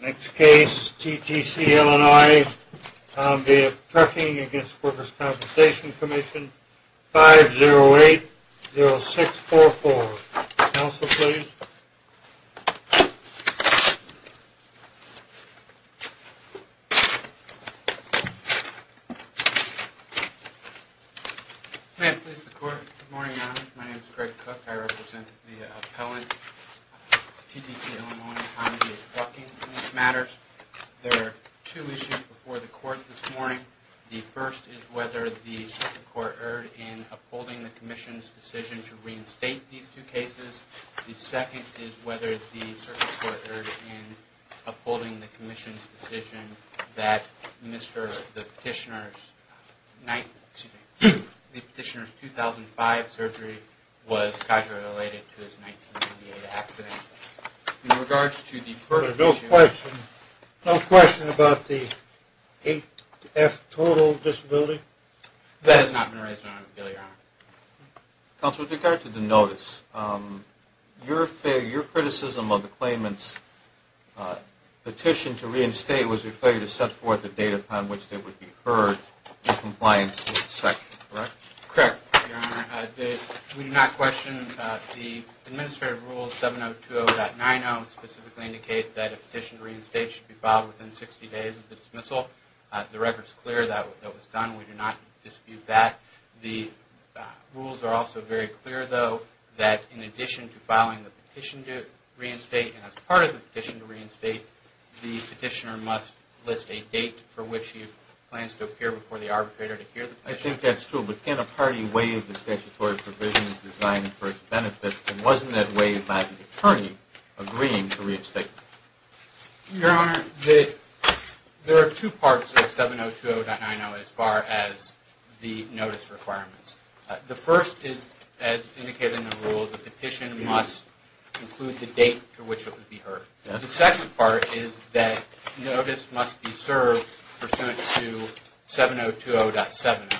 Next case, TTC Illinois, Tom Via Trucking v. The Workers' Compensation Commission, 5-0-8-0-6-4-4. Counsel, please. May I please the court? Good morning, Your Honor. My name is Greg Cook. I represent the appellant, TTC Illinois, Tom Via Trucking in this matter. There are two issues before the court this morning. The first is whether the court erred in upholding the Commission's decision to reinstate these two cases. The second is whether the circuit court erred in upholding the Commission's decision that the petitioner's 2005 surgery was casually related to his 1988 accident. There is no question about the 8-F total disability? That has not been raised in my appeal, Your Honor. Counsel, with regard to the notice, your criticism of the claimant's petition to reinstate was a failure to set forth a date upon which they would be heard in compliance with the section, correct? Correct, Your Honor. We do not question the administrative rules, 7-0-2-0-9-0, specifically indicate that a petition to reinstate should be filed within 60 days of the dismissal. The record is clear that that was done. We do not dispute that. The rules are also very clear, though, that in addition to filing the petition to reinstate and as part of the petition to reinstate, the petitioner must list a date for which he plans to appear before the arbitrator to hear the petition. I think that's true, but can a party waive the statutory provisions designed for its benefit, and wasn't that waived by the attorney agreeing to reinstate? Your Honor, there are two parts of 7-0-2-0-9-0 as far as the notice requirements. The first is, as indicated in the rule, the petition must include the date to which it would be heard. The second part is that notice must be served pursuant to 7-0-2-0-7-0,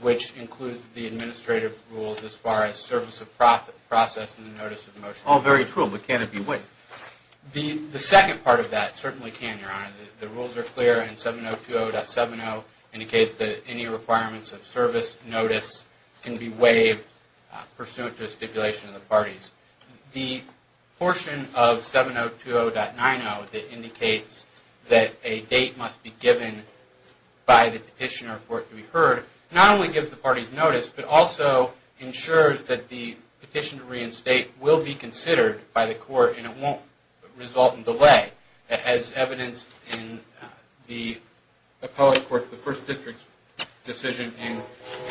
which includes the administrative rules as far as service of process and the notice of motion. All very true, but can it be waived? The second part of that certainly can, Your Honor. The rules are clear, and 7-0-2-0-7-0 indicates that any requirements of service notice can be waived pursuant to the stipulation of the parties. The portion of 7-0-2-0-9-0 that indicates that a date must be given by the petitioner for it to be heard not only gives the parties notice, but also ensures that the petition to reinstate will be considered by the court and it won't result in delay, as evidenced in the first district's decision in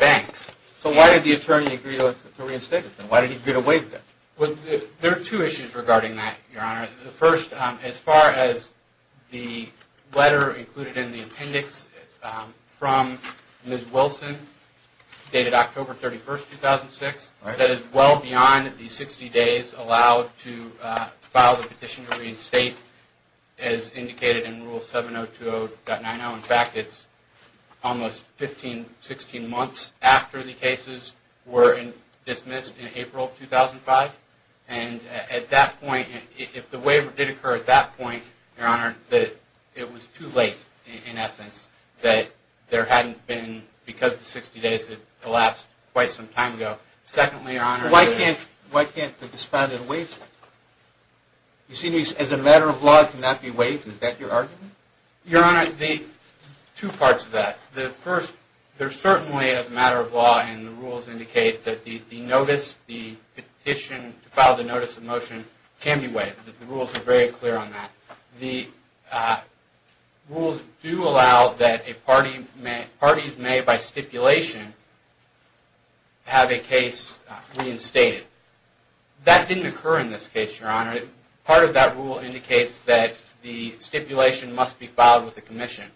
Banks. So why did the attorney agree to reinstate it then? Why did he agree to waive that? There are two issues regarding that, Your Honor. The first, as far as the letter included in the appendix from Ms. Wilson dated October 31, 2006, that is well beyond the 60 days allowed to file the petition to reinstate as indicated in Rule 7-0-2-0-9-0. In fact, it's almost 15, 16 months after the cases were dismissed in April 2005, and at that point, if the waiver did occur at that point, Your Honor, it was too late in essence that there hadn't been, because the 60 days had elapsed quite some time ago. Secondly, Your Honor, Why can't the disbonded waive it? You see, as a matter of law, it cannot be waived. Is that your argument? Your Honor, there are two parts to that. The first, there certainly is a matter of law and the rules indicate that the notice, the petition to file the notice of motion can be waived. The rules are very clear on that. The rules do allow that parties made by stipulation have a case reinstated. That didn't occur in this case, Your Honor. Part of that rule indicates that the stipulation must be filed with the commission.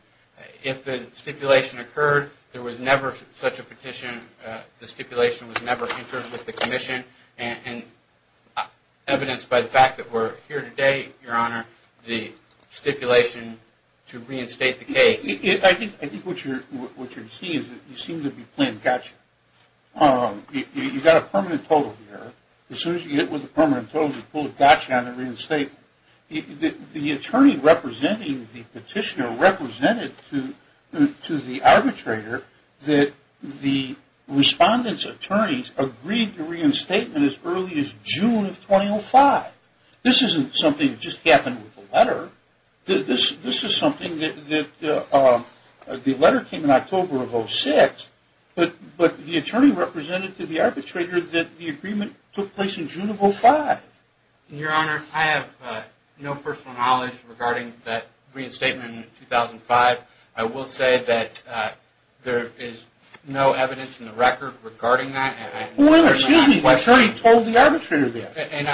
If the stipulation occurred, there was never such a petition, the stipulation was never entered with the commission, and evidenced by the fact that we're here today, Your Honor, the stipulation to reinstate the case. I think what you're seeing is that you seem to be playing gotcha. You've got a permanent total here. As soon as you get with the permanent total, you pull a gotcha on the reinstatement. The attorney representing the petitioner represented to the arbitrator that the respondent's attorneys agreed to reinstatement as early as June of 2005. This isn't something that just happened with the letter. This is something that the letter came in October of 2006, but the attorney represented to the arbitrator that the agreement took place in June of 2005. Your Honor, I have no personal knowledge regarding that reinstatement in 2005. I will say that there is no evidence in the record regarding that. The attorney told the arbitrator that, and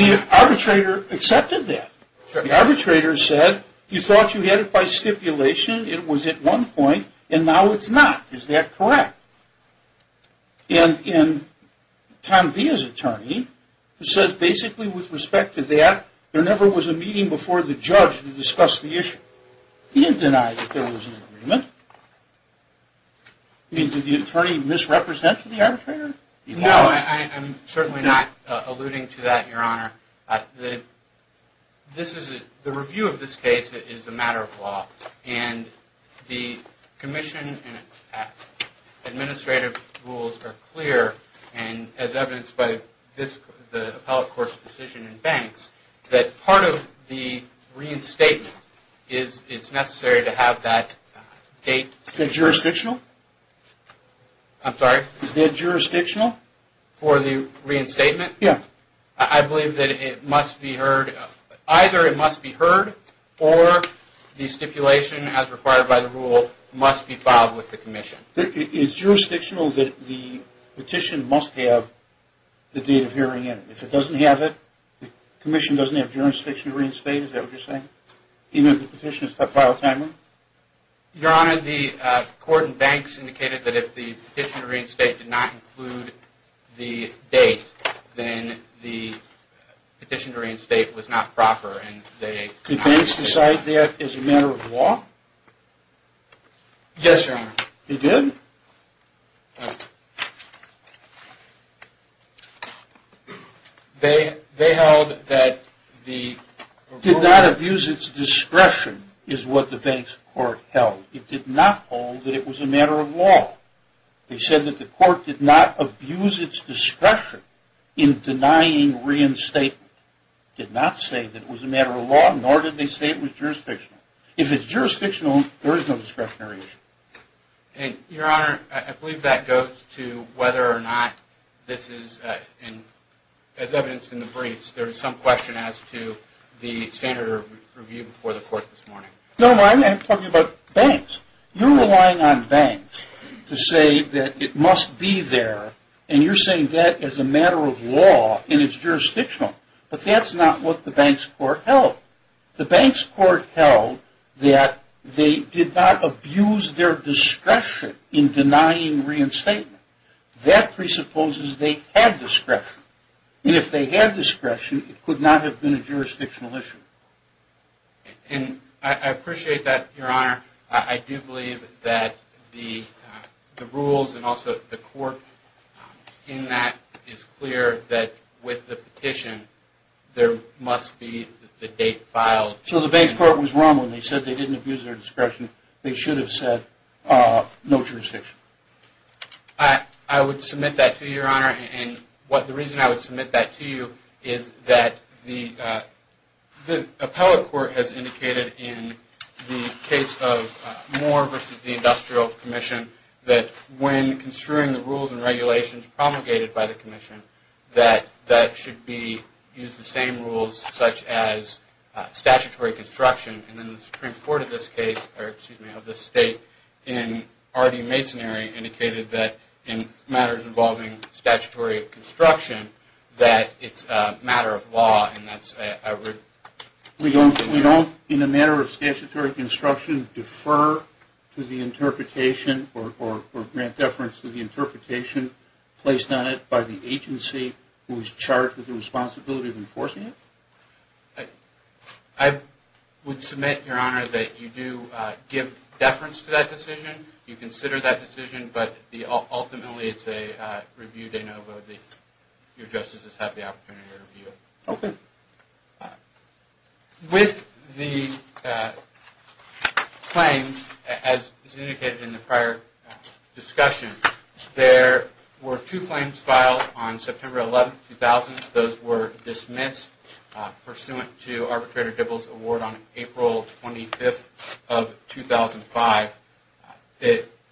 the arbitrator accepted that. The arbitrator said, you thought you had it by stipulation, it was at one point, and now it's not. Is that correct? And Tom Villa's attorney said basically with respect to that, there never was a meeting before the judge to discuss the issue. He didn't deny that there was an agreement. Did the attorney misrepresent to the arbitrator? No, I'm certainly not alluding to that, Your Honor. The review of this case is a matter of law, and the commission and administrative rules are clear, and as evidenced by the appellate court's decision in Banks, that part of the reinstatement, it's necessary to have that date. Is that jurisdictional? I'm sorry? Is that jurisdictional? For the reinstatement? Yeah. I believe that it must be heard, either it must be heard, or the stipulation as required by the rule must be filed with the commission. It's jurisdictional that the petition must have the date of hearing in it. If it doesn't have it, the commission doesn't have jurisdiction to reinstate, is that what you're saying? Even if the petition is filed timely? Your Honor, the court in Banks indicated that if the petition to reinstate did not include the date, then the petition to reinstate was not proper. Did Banks decide that as a matter of law? Yes, Your Honor. He did? Yes. They held that the rule... Did not abuse its discretion, is what the Banks court held. It did not hold that it was a matter of law. They said that the court did not abuse its discretion in denying reinstatement. Did not say that it was a matter of law, nor did they say it was jurisdictional. If it's jurisdictional, there is no discretionary issue. Your Honor, I believe that goes to whether or not this is, as evidenced in the briefs, there is some question as to the standard review before the court this morning. No, I'm talking about Banks. You're relying on Banks to say that it must be there, and you're saying that as a matter of law, and it's jurisdictional. But that's not what the Banks court held. The Banks court held that they did not abuse their discretion in denying reinstatement. That presupposes they had discretion. And if they had discretion, it could not have been a jurisdictional issue. And I appreciate that, Your Honor. I do believe that the rules and also the court in that is clear that with the petition, there must be the date filed. So the Banks court was wrong when they said they didn't abuse their discretion. They should have said no jurisdiction. I would submit that to you, Your Honor. And the reason I would submit that to you is that the appellate court has indicated in the case of Moore v. The Industrial Commission that when construing the rules and regulations promulgated by the commission, that that should be used the same rules such as statutory construction. And then the Supreme Court of this case, or excuse me, of this state in R.D. Masonary indicated that in matters involving statutory construction, that it's a matter of law and that's a... We don't, in a matter of statutory construction, defer to the interpretation or grant deference to the interpretation placed on it by the agency who is charged with the responsibility of enforcing it? I would submit, Your Honor, that you do give deference to that decision. You consider that decision, but ultimately it's a review de novo. Your justices have the opportunity to review it. Okay. With the claims as indicated in the prior discussion, there were two claims filed on September 11, 2000. Those were dismissed pursuant to Arbitrator Dibble's award on April 25, 2005.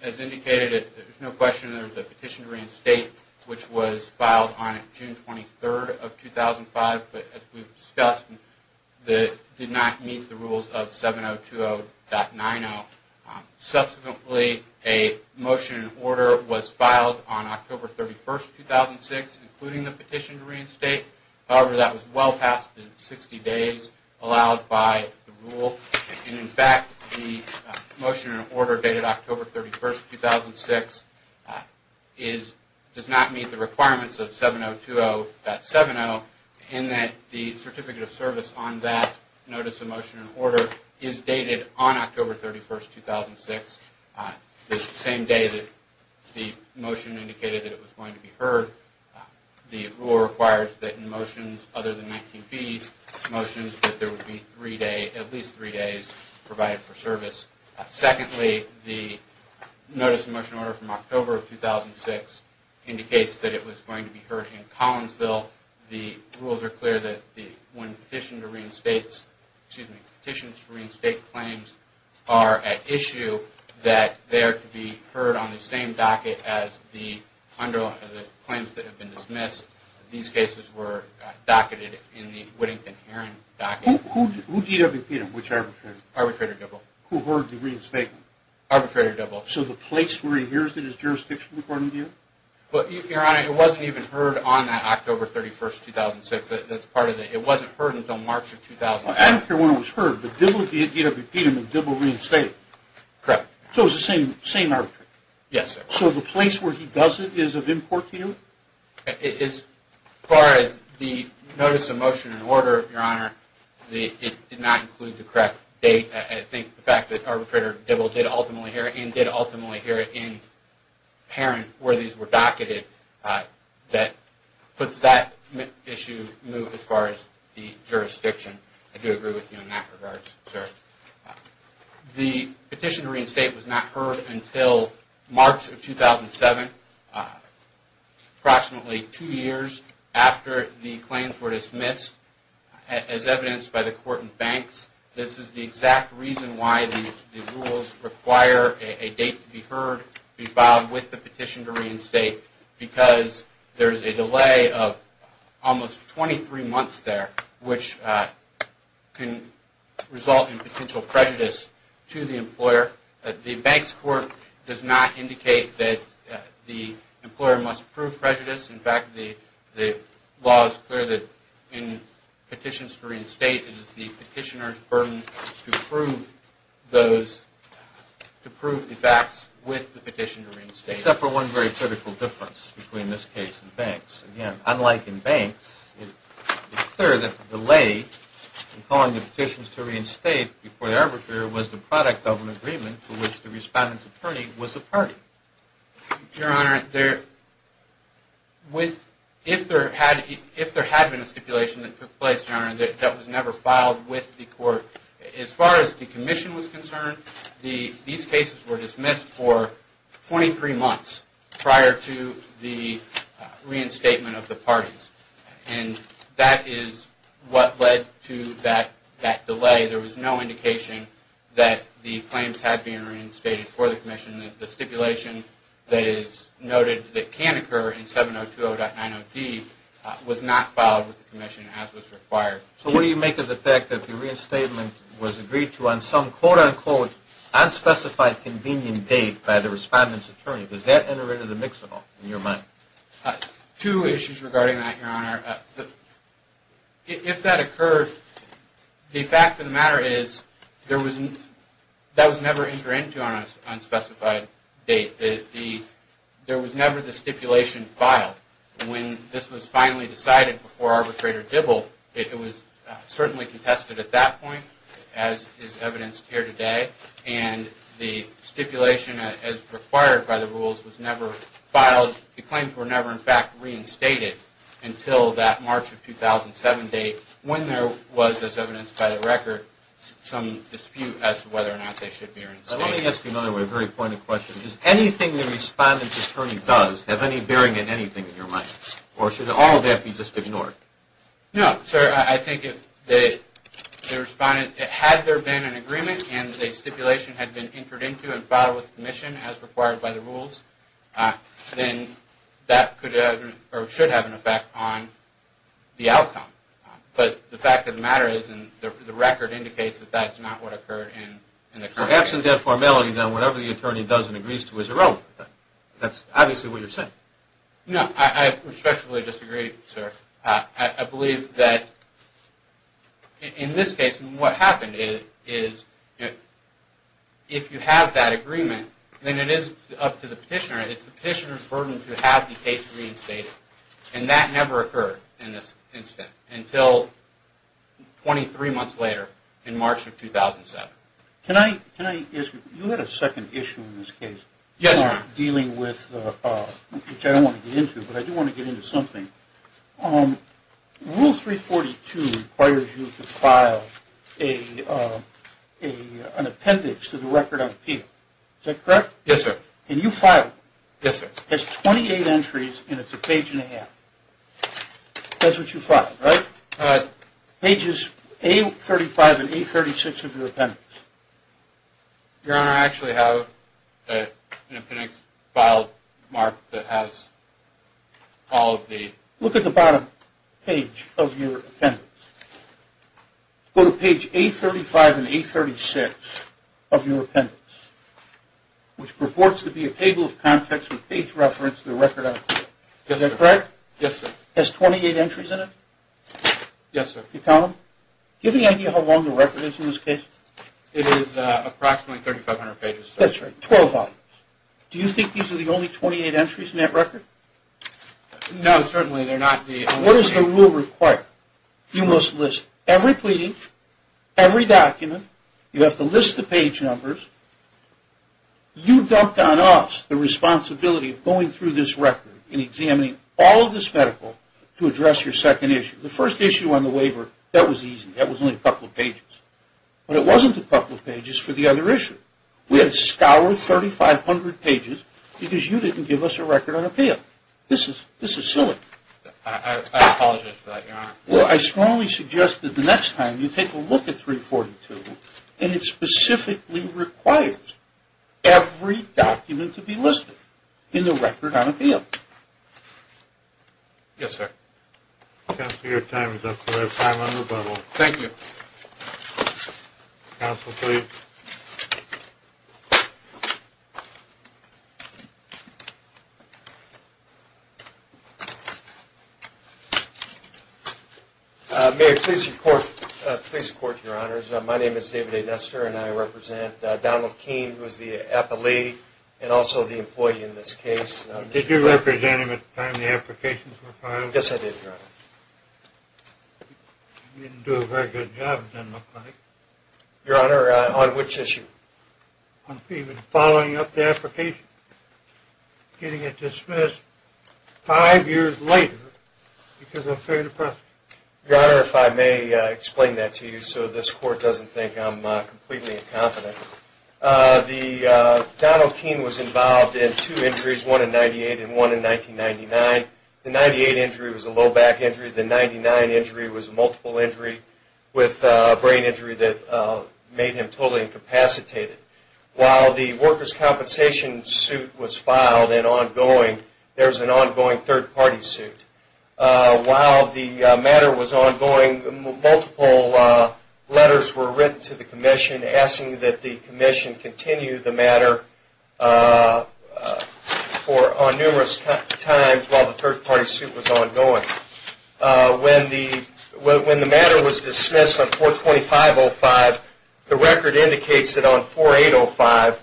As indicated, there's no question there's a petition to reinstate, which was filed on June 23, 2005. But as we've discussed, it did not meet the rules of 7020.90. Subsequently, a motion in order was filed on October 31, 2006, including the petition to reinstate. However, that was well past the 60 days allowed by the rule. In fact, the motion in order dated October 31, 2006 does not meet the requirements of 7020.70 in that the certificate of service on that notice of motion in order is dated on October 31, 2006, the same day that the motion indicated that it was going to be heard. The rule requires that in motions other than 19B motions that there would be at least three days provided for service. Secondly, the notice of motion order from October 2006 indicates that it was going to be heard in Collinsville. The rules are clear that when petitions to reinstate claims are at issue, that they are to be heard on the same docket as the claims that have been dismissed. These cases were docketed in the Whittington-Herron docket. Who DWP'd them, which arbitrator? Arbitrator Dibble. Who heard the reinstatement? Arbitrator Dibble. So the place where he hears it is jurisdiction, according to you? Your Honor, it wasn't even heard on that October 31, 2006. It wasn't heard until March of 2006. I don't care when it was heard, but Dibble, DWP'd him and Dibble reinstated him. Correct. So it was the same arbitrator? Yes, sir. So the place where he does it is of import to you? As far as the notice of motion in order, Your Honor, it did not include the correct date. I think the fact that Arbitrator Dibble did ultimately hear it and did ultimately hear it in Herron, where these were docketed, that puts that issue moved as far as the jurisdiction. I do agree with you in that regard, sir. The petition to reinstate was not heard until March of 2007, approximately two years after the claims were dismissed. As evidenced by the court and banks, this is the exact reason why the rules require a date to be heard, be filed with the petition to reinstate, because there is a delay of almost 23 months there, which can result in potential prejudice to the employer. The banks court does not indicate that the employer must prove prejudice. In fact, the law is clear that in petitions to reinstate, it is the petitioner's burden to prove the facts with the petition to reinstate. Except for one very critical difference between this case and banks. Again, unlike in banks, it's clear that the delay in calling the petitions to reinstate before the arbitrator was the product of an agreement to which the respondent's attorney was a party. Your Honor, if there had been a stipulation that took place, Your Honor, that was never filed with the court, as far as the commission was concerned, these cases were dismissed for 23 months prior to the reinstatement of the parties. And that is what led to that delay. There was no indication that the claims had been reinstated for the commission, that the stipulation that is noted that can occur in 7020.90D was not filed with the commission as was required. So what do you make of the fact that the reinstatement was agreed to on some quote-unquote unspecified convenient date by the respondent's attorney? Does that enter into the mix at all, in your mind? Two issues regarding that, Your Honor. If that occurred, the fact of the matter is that was never entered into on an unspecified date. There was never the stipulation filed. When this was finally decided before Arbitrator Dibble, it was certainly contested at that point, as is evidenced here today, and the stipulation as required by the rules was never filed. The claims were never in fact reinstated until that March of 2007 date, when there was, as evidenced by the record, some dispute as to whether or not they should be reinstated. Let me ask you another way, a very pointed question. Does anything the respondent's attorney does have any bearing in anything, in your mind? Or should all of that be just ignored? No, sir. I think if the respondent, had there been an agreement and the stipulation had been entered into and filed with the commission as required by the rules, then that could or should have an effect on the outcome. But the fact of the matter is, and the record indicates that that's not what occurred in the current case. Perhaps in their formality, then, whatever the attorney does and agrees to is irrelevant. That's obviously what you're saying. No, I respectfully disagree, sir. I believe that in this case, what happened is, if you have that agreement, then it is up to the petitioner. It's the petitioner's burden to have the case reinstated. And that never occurred in this instance, until 23 months later in March of 2007. Can I ask you, you had a second issue in this case. Yes, Your Honor. Dealing with, which I don't want to get into, but I do want to get into something. Rule 342 requires you to file an appendix to the record of appeal. Is that correct? Yes, sir. And you filed it. Yes, sir. It's 28 entries and it's a page and a half. That's what you filed, right? Pages A35 and A36 of your appendix. Your Honor, I actually have an appendix filed, Mark, that has all of the Look at the bottom page of your appendix. Go to page A35 and A36 of your appendix, which purports to be a table of contents with page reference to the record of appeal. Is that correct? Yes, sir. Has 28 entries in it? Yes, sir. Do you count them? Do you have any idea how long the record is in this case? It is approximately 3,500 pages. That's right, 12 volumes. Do you think these are the only 28 entries in that record? No, certainly they're not. What does the rule require? You must list every pleading, every document. You have to list the page numbers. You dumped on us the responsibility of going through this record and examining all of this medical to address your second issue. The first issue on the waiver, that was easy. That was only a couple of pages. But it wasn't a couple of pages for the other issue. We had to scour 3,500 pages because you didn't give us a record on appeal. This is silly. I apologize for that, Your Honor. Well, I strongly suggest that the next time you take a look at 342, and it specifically requires every document to be listed in the record on appeal. Yes, sir. Counsel, your time is up. You have time on rebuttal. Thank you. Counsel, please. Mayor, please report to your honors. My name is David A. Nestor, and I represent Donald Keene, who is the appellee and also the employee in this case. Did you represent him at the time the applications were filed? I guess I did, Your Honor. You didn't do a very good job, it doesn't look like. Your Honor, on which issue? On the following up the application, getting it dismissed five years later because of fear of the press. Your Honor, if I may explain that to you so this court doesn't think I'm completely incompetent. Donald Keene was involved in two injuries, one in 1998 and one in 1999. The 1998 injury was a low back injury. The 1999 injury was a multiple injury with a brain injury that made him totally incapacitated. While the workers' compensation suit was filed and ongoing, there's an ongoing third-party suit. While the matter was ongoing, multiple letters were written to the commission asking that the commission continue the matter on numerous times while the third-party suit was ongoing. When the matter was dismissed on 4-25-05, the record indicates that on 4-8-05,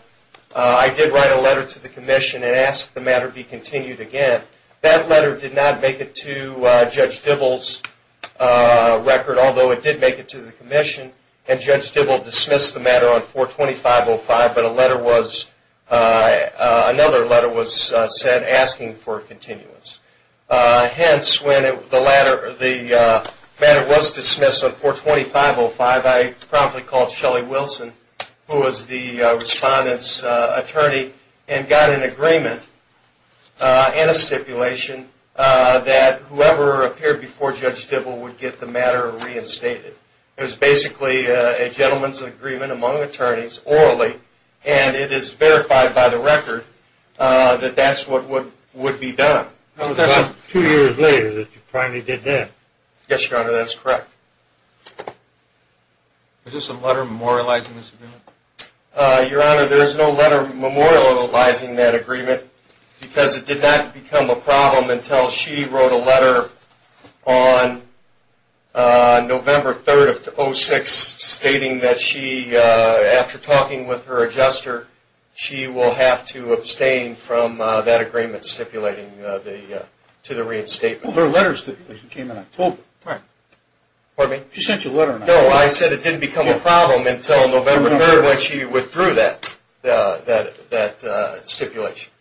I did write a letter to the commission and asked the matter be continued again. That letter did not make it to Judge Dibble's record, although it did make it to the commission, and Judge Dibble dismissed the matter on 4-25-05, but another letter was sent asking for a continuance. Hence, when the matter was dismissed on 4-25-05, I promptly called Shelley Wilson, who was the respondent's attorney, and got an agreement and a stipulation that whoever appeared before Judge Dibble would get the matter reinstated. It was basically a gentleman's agreement among attorneys, orally, and it is verified by the record that that's what would be done. It was about two years later that you finally did that. Yes, Your Honor, that's correct. Is there some letter memorializing this agreement? Your Honor, there is no letter memorializing that agreement because it did not become a problem until she wrote a letter on November 3-06 stating that she, after talking with her adjuster, she will have to abstain from that agreement stipulating to the reinstatement. Well, her letter stipulation came in October. Pardon me? She sent you a letter in October. No, I said it didn't become a problem until November 3rd when she withdrew that stipulation.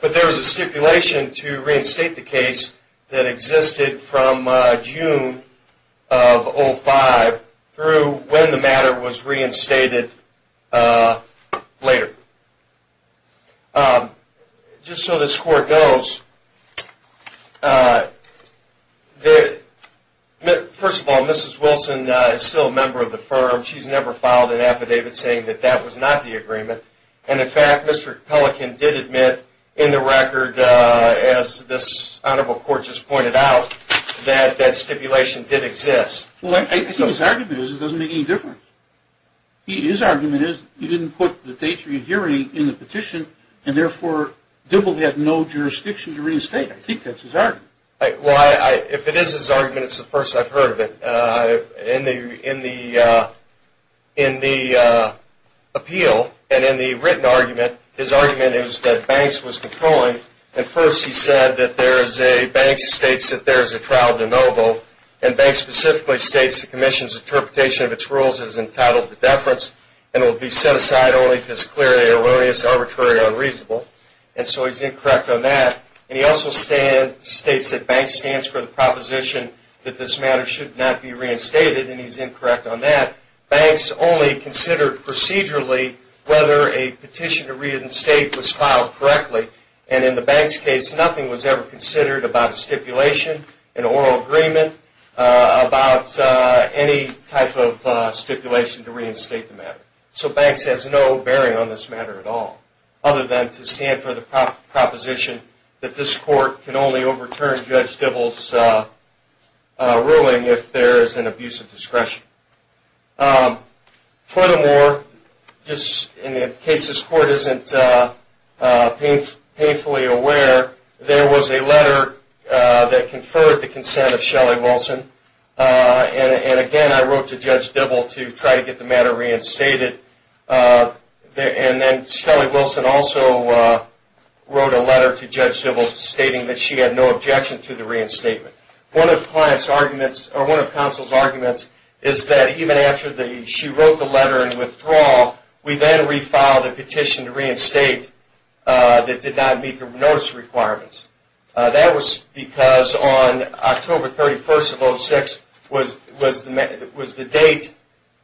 But there was a stipulation to reinstate the case that existed from June of 2005 through when the matter was reinstated later. Just so this Court knows, first of all, Mrs. Wilson is still a member of the firm. She's never filed an affidavit saying that that was not the agreement. And, in fact, Mr. Pelican did admit in the record, as this Honorable Court just pointed out, that that stipulation did exist. Well, I think his argument is it doesn't make any difference. His argument is he didn't put the Patriot hearing in the petition, and therefore Dibble had no jurisdiction to reinstate. I think that's his argument. Well, if it is his argument, it's the first I've heard of it. In the appeal and in the written argument, his argument is that Banks was controlling, and first he said that Banks states that there is a trial de novo, and Banks specifically states the Commission's interpretation of its rules is entitled to deference and will be set aside only if it's clearly erroneous, arbitrary, or unreasonable. And so he's incorrect on that. And he also states that Banks stands for the proposition that this matter should not be reinstated, and he's incorrect on that. Banks only considered procedurally whether a petition to reinstate was filed correctly. And in the Banks case, nothing was ever considered about a stipulation, an oral agreement, about any type of stipulation to reinstate the matter. So Banks has no bearing on this matter at all, other than to stand for the proposition that this court can only overturn Judge Dibble's ruling if there is an abuse of discretion. Furthermore, just in case this court isn't painfully aware, there was a letter that conferred the consent of Shelley Wilson, and again I wrote to Judge Dibble to try to get the matter reinstated. And then Shelley Wilson also wrote a letter to Judge Dibble stating that she had no objection to the reinstatement. One of counsel's arguments is that even after she wrote the letter in withdrawal, we then refiled a petition to reinstate that did not meet the notice requirements. That was because on October 31st of 2006 was the date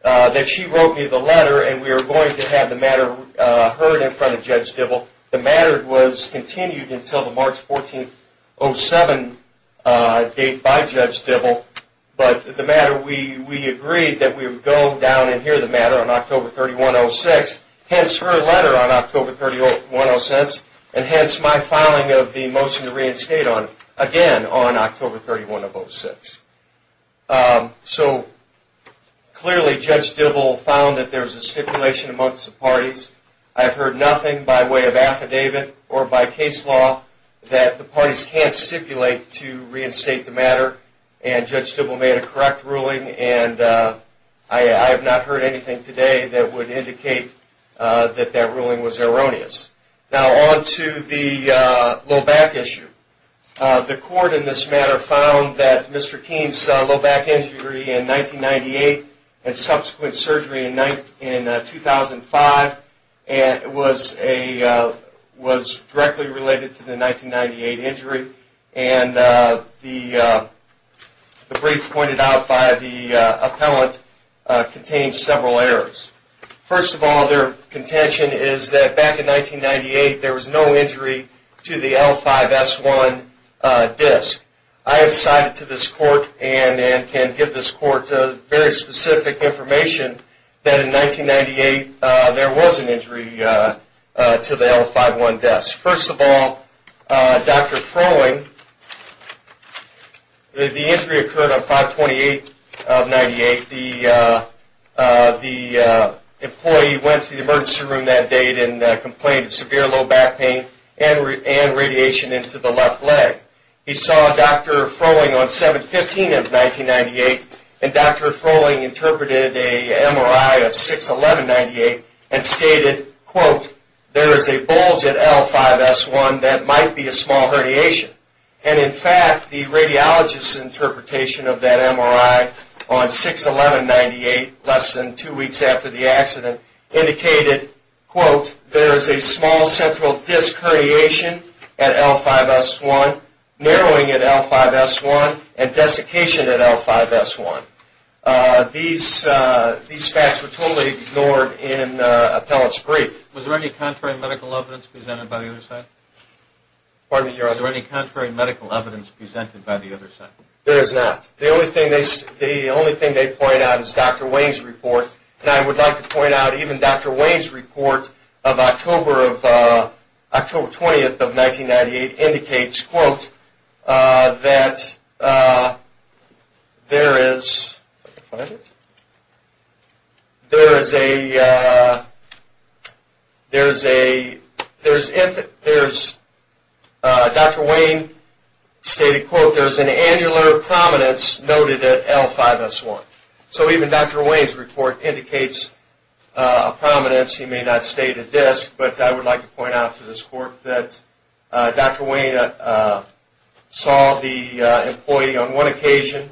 that she wrote me the letter and we were going to have the matter heard in front of Judge Dibble. The matter was continued until the March 14th, 2007 date by Judge Dibble. But the matter, we agreed that we would go down and hear the matter on October 31st, 2006, hence her letter on October 31st, and hence my filing of the motion to reinstate on October 31st, 2006. So clearly Judge Dibble found that there was a stipulation amongst the parties. I've heard nothing by way of affidavit or by case law that the parties can't stipulate to reinstate the matter, and Judge Dibble made a correct ruling. I have not heard anything today that would indicate that that ruling was erroneous. Now on to the low back issue. The court in this matter found that Mr. Keene's low back injury in 1998 and subsequent surgery in 2005 was directly related to the 1998 injury, and the brief pointed out by the appellant contained several errors. First of all, their contention is that back in 1998 there was no injury to the L5-S1 disc. I have cited to this court and can give this court very specific information that in 1998 there was an injury to the L5-S1 disc. First of all, Dr. Froehling, the injury occurred on 5-28 of 1998. The employee went to the emergency room that date and complained of severe low back pain and radiation into the left leg. He saw Dr. Froehling on 7-15 of 1998, and Dr. Froehling interpreted an MRI of 6-11-98 and stated, quote, there is a bulge at L5-S1 that might be a small herniation. And in fact, the radiologist's interpretation of that MRI on 6-11-98, less than two weeks after the accident, indicated, quote, there is a small central disc herniation at L5-S1, narrowing at L5-S1, and desiccation at L5-S1. These facts were totally ignored in Appellate's brief. Was there any contrary medical evidence presented by the other side? There is not. The only thing they point out is Dr. Wayne's report, and I would like to point out even Dr. Wayne's report of October 20, 1998, indicates, quote, that there is an annular prominence noted at L5-S1. So even Dr. Wayne's report indicates a prominence. He may not state a disc, but I would like to point out to this court that Dr. Wayne saw the employee on one occasion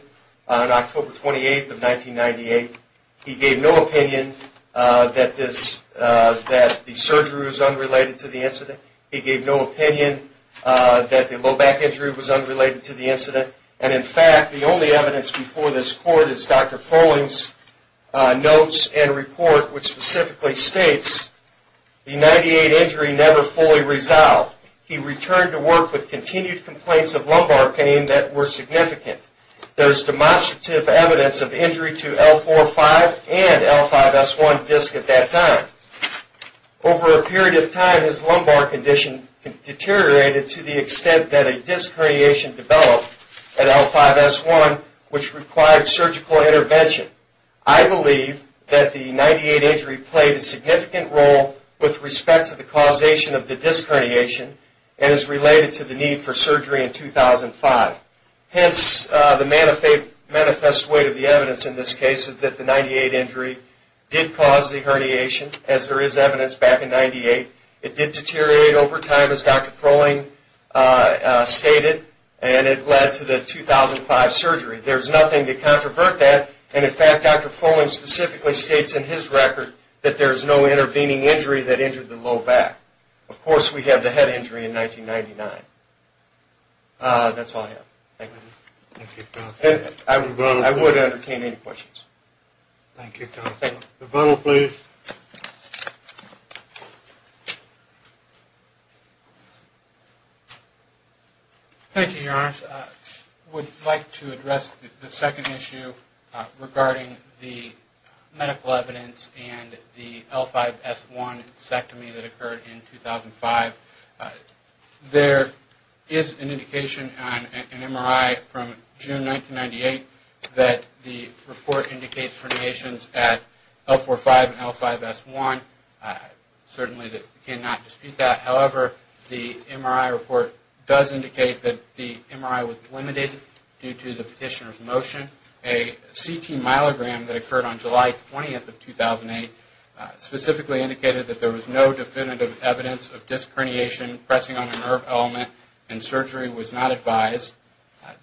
on October 28, 1998. He gave no opinion that the surgery was unrelated to the incident. He gave no opinion that the low back injury was unrelated to the incident. And in fact, the only evidence before this court is Dr. Froehling's notes and report which specifically states, the 98 injury never fully resolved. He returned to work with continued complaints of lumbar pain that were significant. There is demonstrative evidence of injury to L4-5 and L5-S1 discs at that time. Over a period of time, his lumbar condition deteriorated to the extent that a disc herniation developed at L5-S1, which required surgical intervention. I believe that the 98 injury played a significant role with respect to the causation of the disc herniation and is related to the need for surgery in 2005. Hence, the manifest weight of the evidence in this case is that the 98 injury did cause the herniation, as there is evidence back in 98. It did deteriorate over time, as Dr. Froehling stated, and it led to the 2005 surgery. There is nothing to controvert that, and in fact, Dr. Froehling specifically states in his record that there is no intervening injury that injured the low back. Of course, we have the head injury in 1999. That's all I have. Thank you. I would entertain any questions. Thank you, Tom. Rebuttal, please. Thank you, Your Honor. I would like to address the second issue regarding the medical evidence and the L5-S1 mastectomy that occurred in 2005. There is an indication on an MRI from June 1998 that the report indicates herniations at L4-5 and L5-S1. Certainly, we cannot dispute that. However, the MRI report does indicate that the MRI was limited due to the petitioner's motion. A CT myelogram that occurred on July 20, 2008, specifically indicated that there was no definitive evidence of disc herniation, pressing on a nerve element, and surgery was not advised.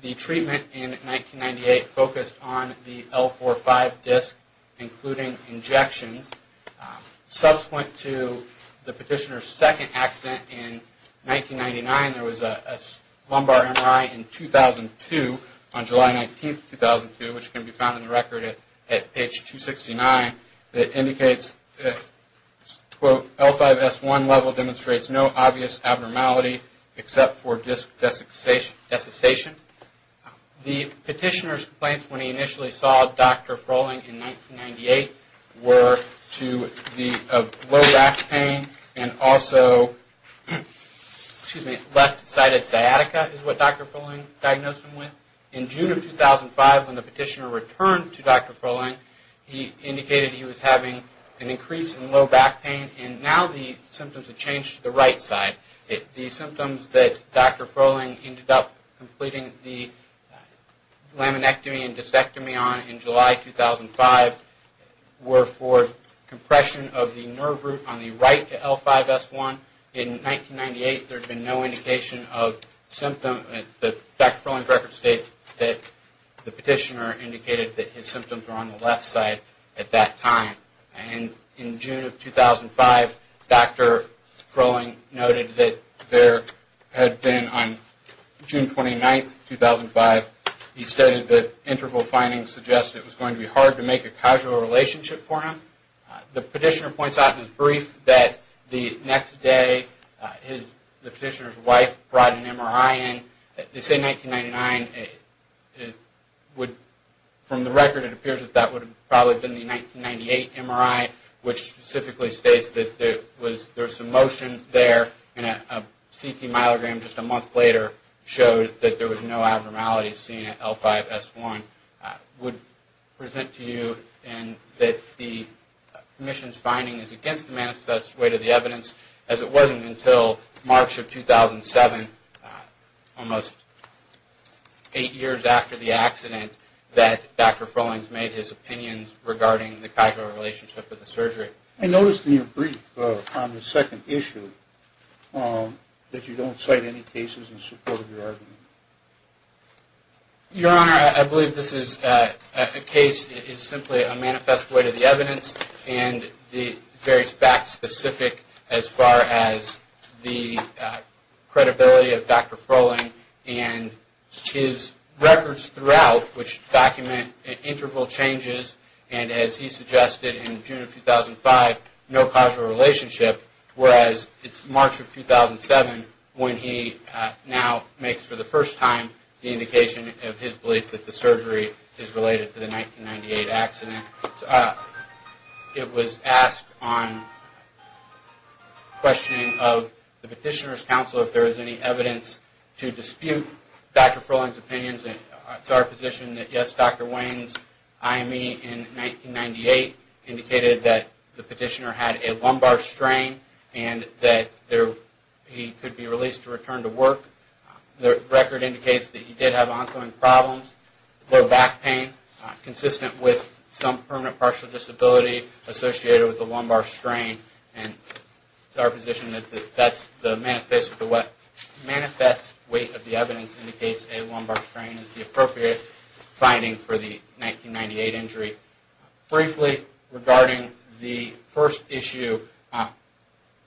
The treatment in 1998 focused on the L4-5 disc, including injections. Subsequent to the petitioner's second accident in 1999, there was a lumbar MRI in 2002, on July 19, 2002, which can be found in the record at page 269 that indicates, quote, L5-S1 level demonstrates no obvious abnormality except for disc desiccation. The petitioner's complaints when he initially saw Dr. Froehling in 1998 were of low back pain and also left-sided sciatica is what Dr. Froehling diagnosed him with. In June of 2005, when the petitioner returned to Dr. Froehling, he indicated he was having an increase in low back pain, and now the symptoms have changed to the right side. The symptoms that Dr. Froehling ended up completing the laminectomy and discectomy on in July 2005 were for compression of the nerve root on the right L5-S1. In 1998, there had been no indication of symptoms. Dr. Froehling's records state that the petitioner indicated that his symptoms were on the left side at that time. In June of 2005, Dr. Froehling noted that there had been on June 29, 2005, he stated that interval findings suggested it was going to be hard to make a casual relationship for him. The petitioner points out in his brief that the next day the petitioner's wife brought an MRI in. They say 1999. From the record, it appears that that would have probably been the 1998 MRI, which specifically states that there was some motion there, and a CT myelogram just a month later showed that there was no abnormalities seen at L5-S1. I would present to you that the commission's finding is against the manifesto weight of the evidence, as it wasn't until March of 2007, almost eight years after the accident, that Dr. Froehling made his opinions regarding the casual relationship with the surgery. I noticed in your brief on the second issue that you don't cite any cases in support of your argument. Your Honor, I believe this is a case that is simply a manifest way to the evidence, and very fact-specific as far as the credibility of Dr. Froehling, and his records throughout which document interval changes, and as he suggested in June of 2005, no casual relationship, whereas it's March of 2007 when he now makes for the first time the indication of his belief that the surgery is related to the 1998 accident. It was asked on questioning of the petitioner's counsel if there is any evidence to dispute Dr. Froehling's opinions, and it's our position that yes, Dr. Wayne's IME in 1998 indicated that the petitioner had a lumbar strain, and that he could be released to return to work. The record indicates that he did have ongoing problems, low back pain, consistent with some permanent partial disability associated with the lumbar strain, and it's our position that the manifest weight of the evidence indicates a lumbar strain is the appropriate finding for the 1998 injury. Briefly regarding the first issue,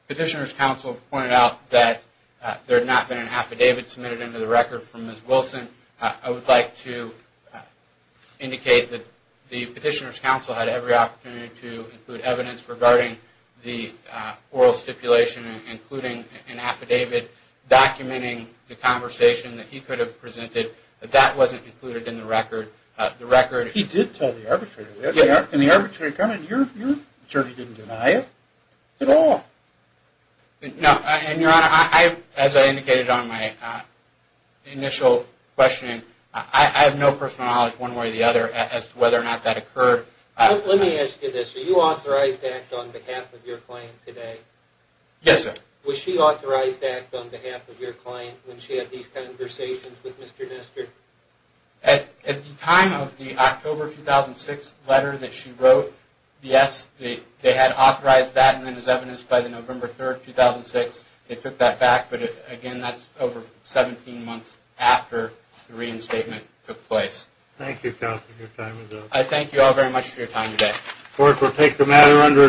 petitioner's counsel pointed out that there had not been an affidavit submitted into the record from Ms. Wilson. I would like to indicate that the petitioner's counsel had every opportunity to include evidence regarding the oral stipulation, including an affidavit documenting the conversation that he could have presented, but that wasn't included in the record. He did tell the arbitrator that. In the arbitrary comment, your attorney didn't deny it at all. No, and, Your Honor, as I indicated on my initial questioning, I have no personal knowledge one way or the other as to whether or not that occurred. Let me ask you this. Were you authorized to act on behalf of your client today? Yes, sir. Was she authorized to act on behalf of your client when she had these conversations with Mr. Nestor? At the time of the October 2006 letter that she wrote, yes, they had authorized that, and then as evidenced by the November 3rd, 2006, they took that back. But, again, that's over 17 months after the reinstatement took place. Thank you, counsel. Your time is up. I thank you all very much for your time today. Court will take the matter under its own.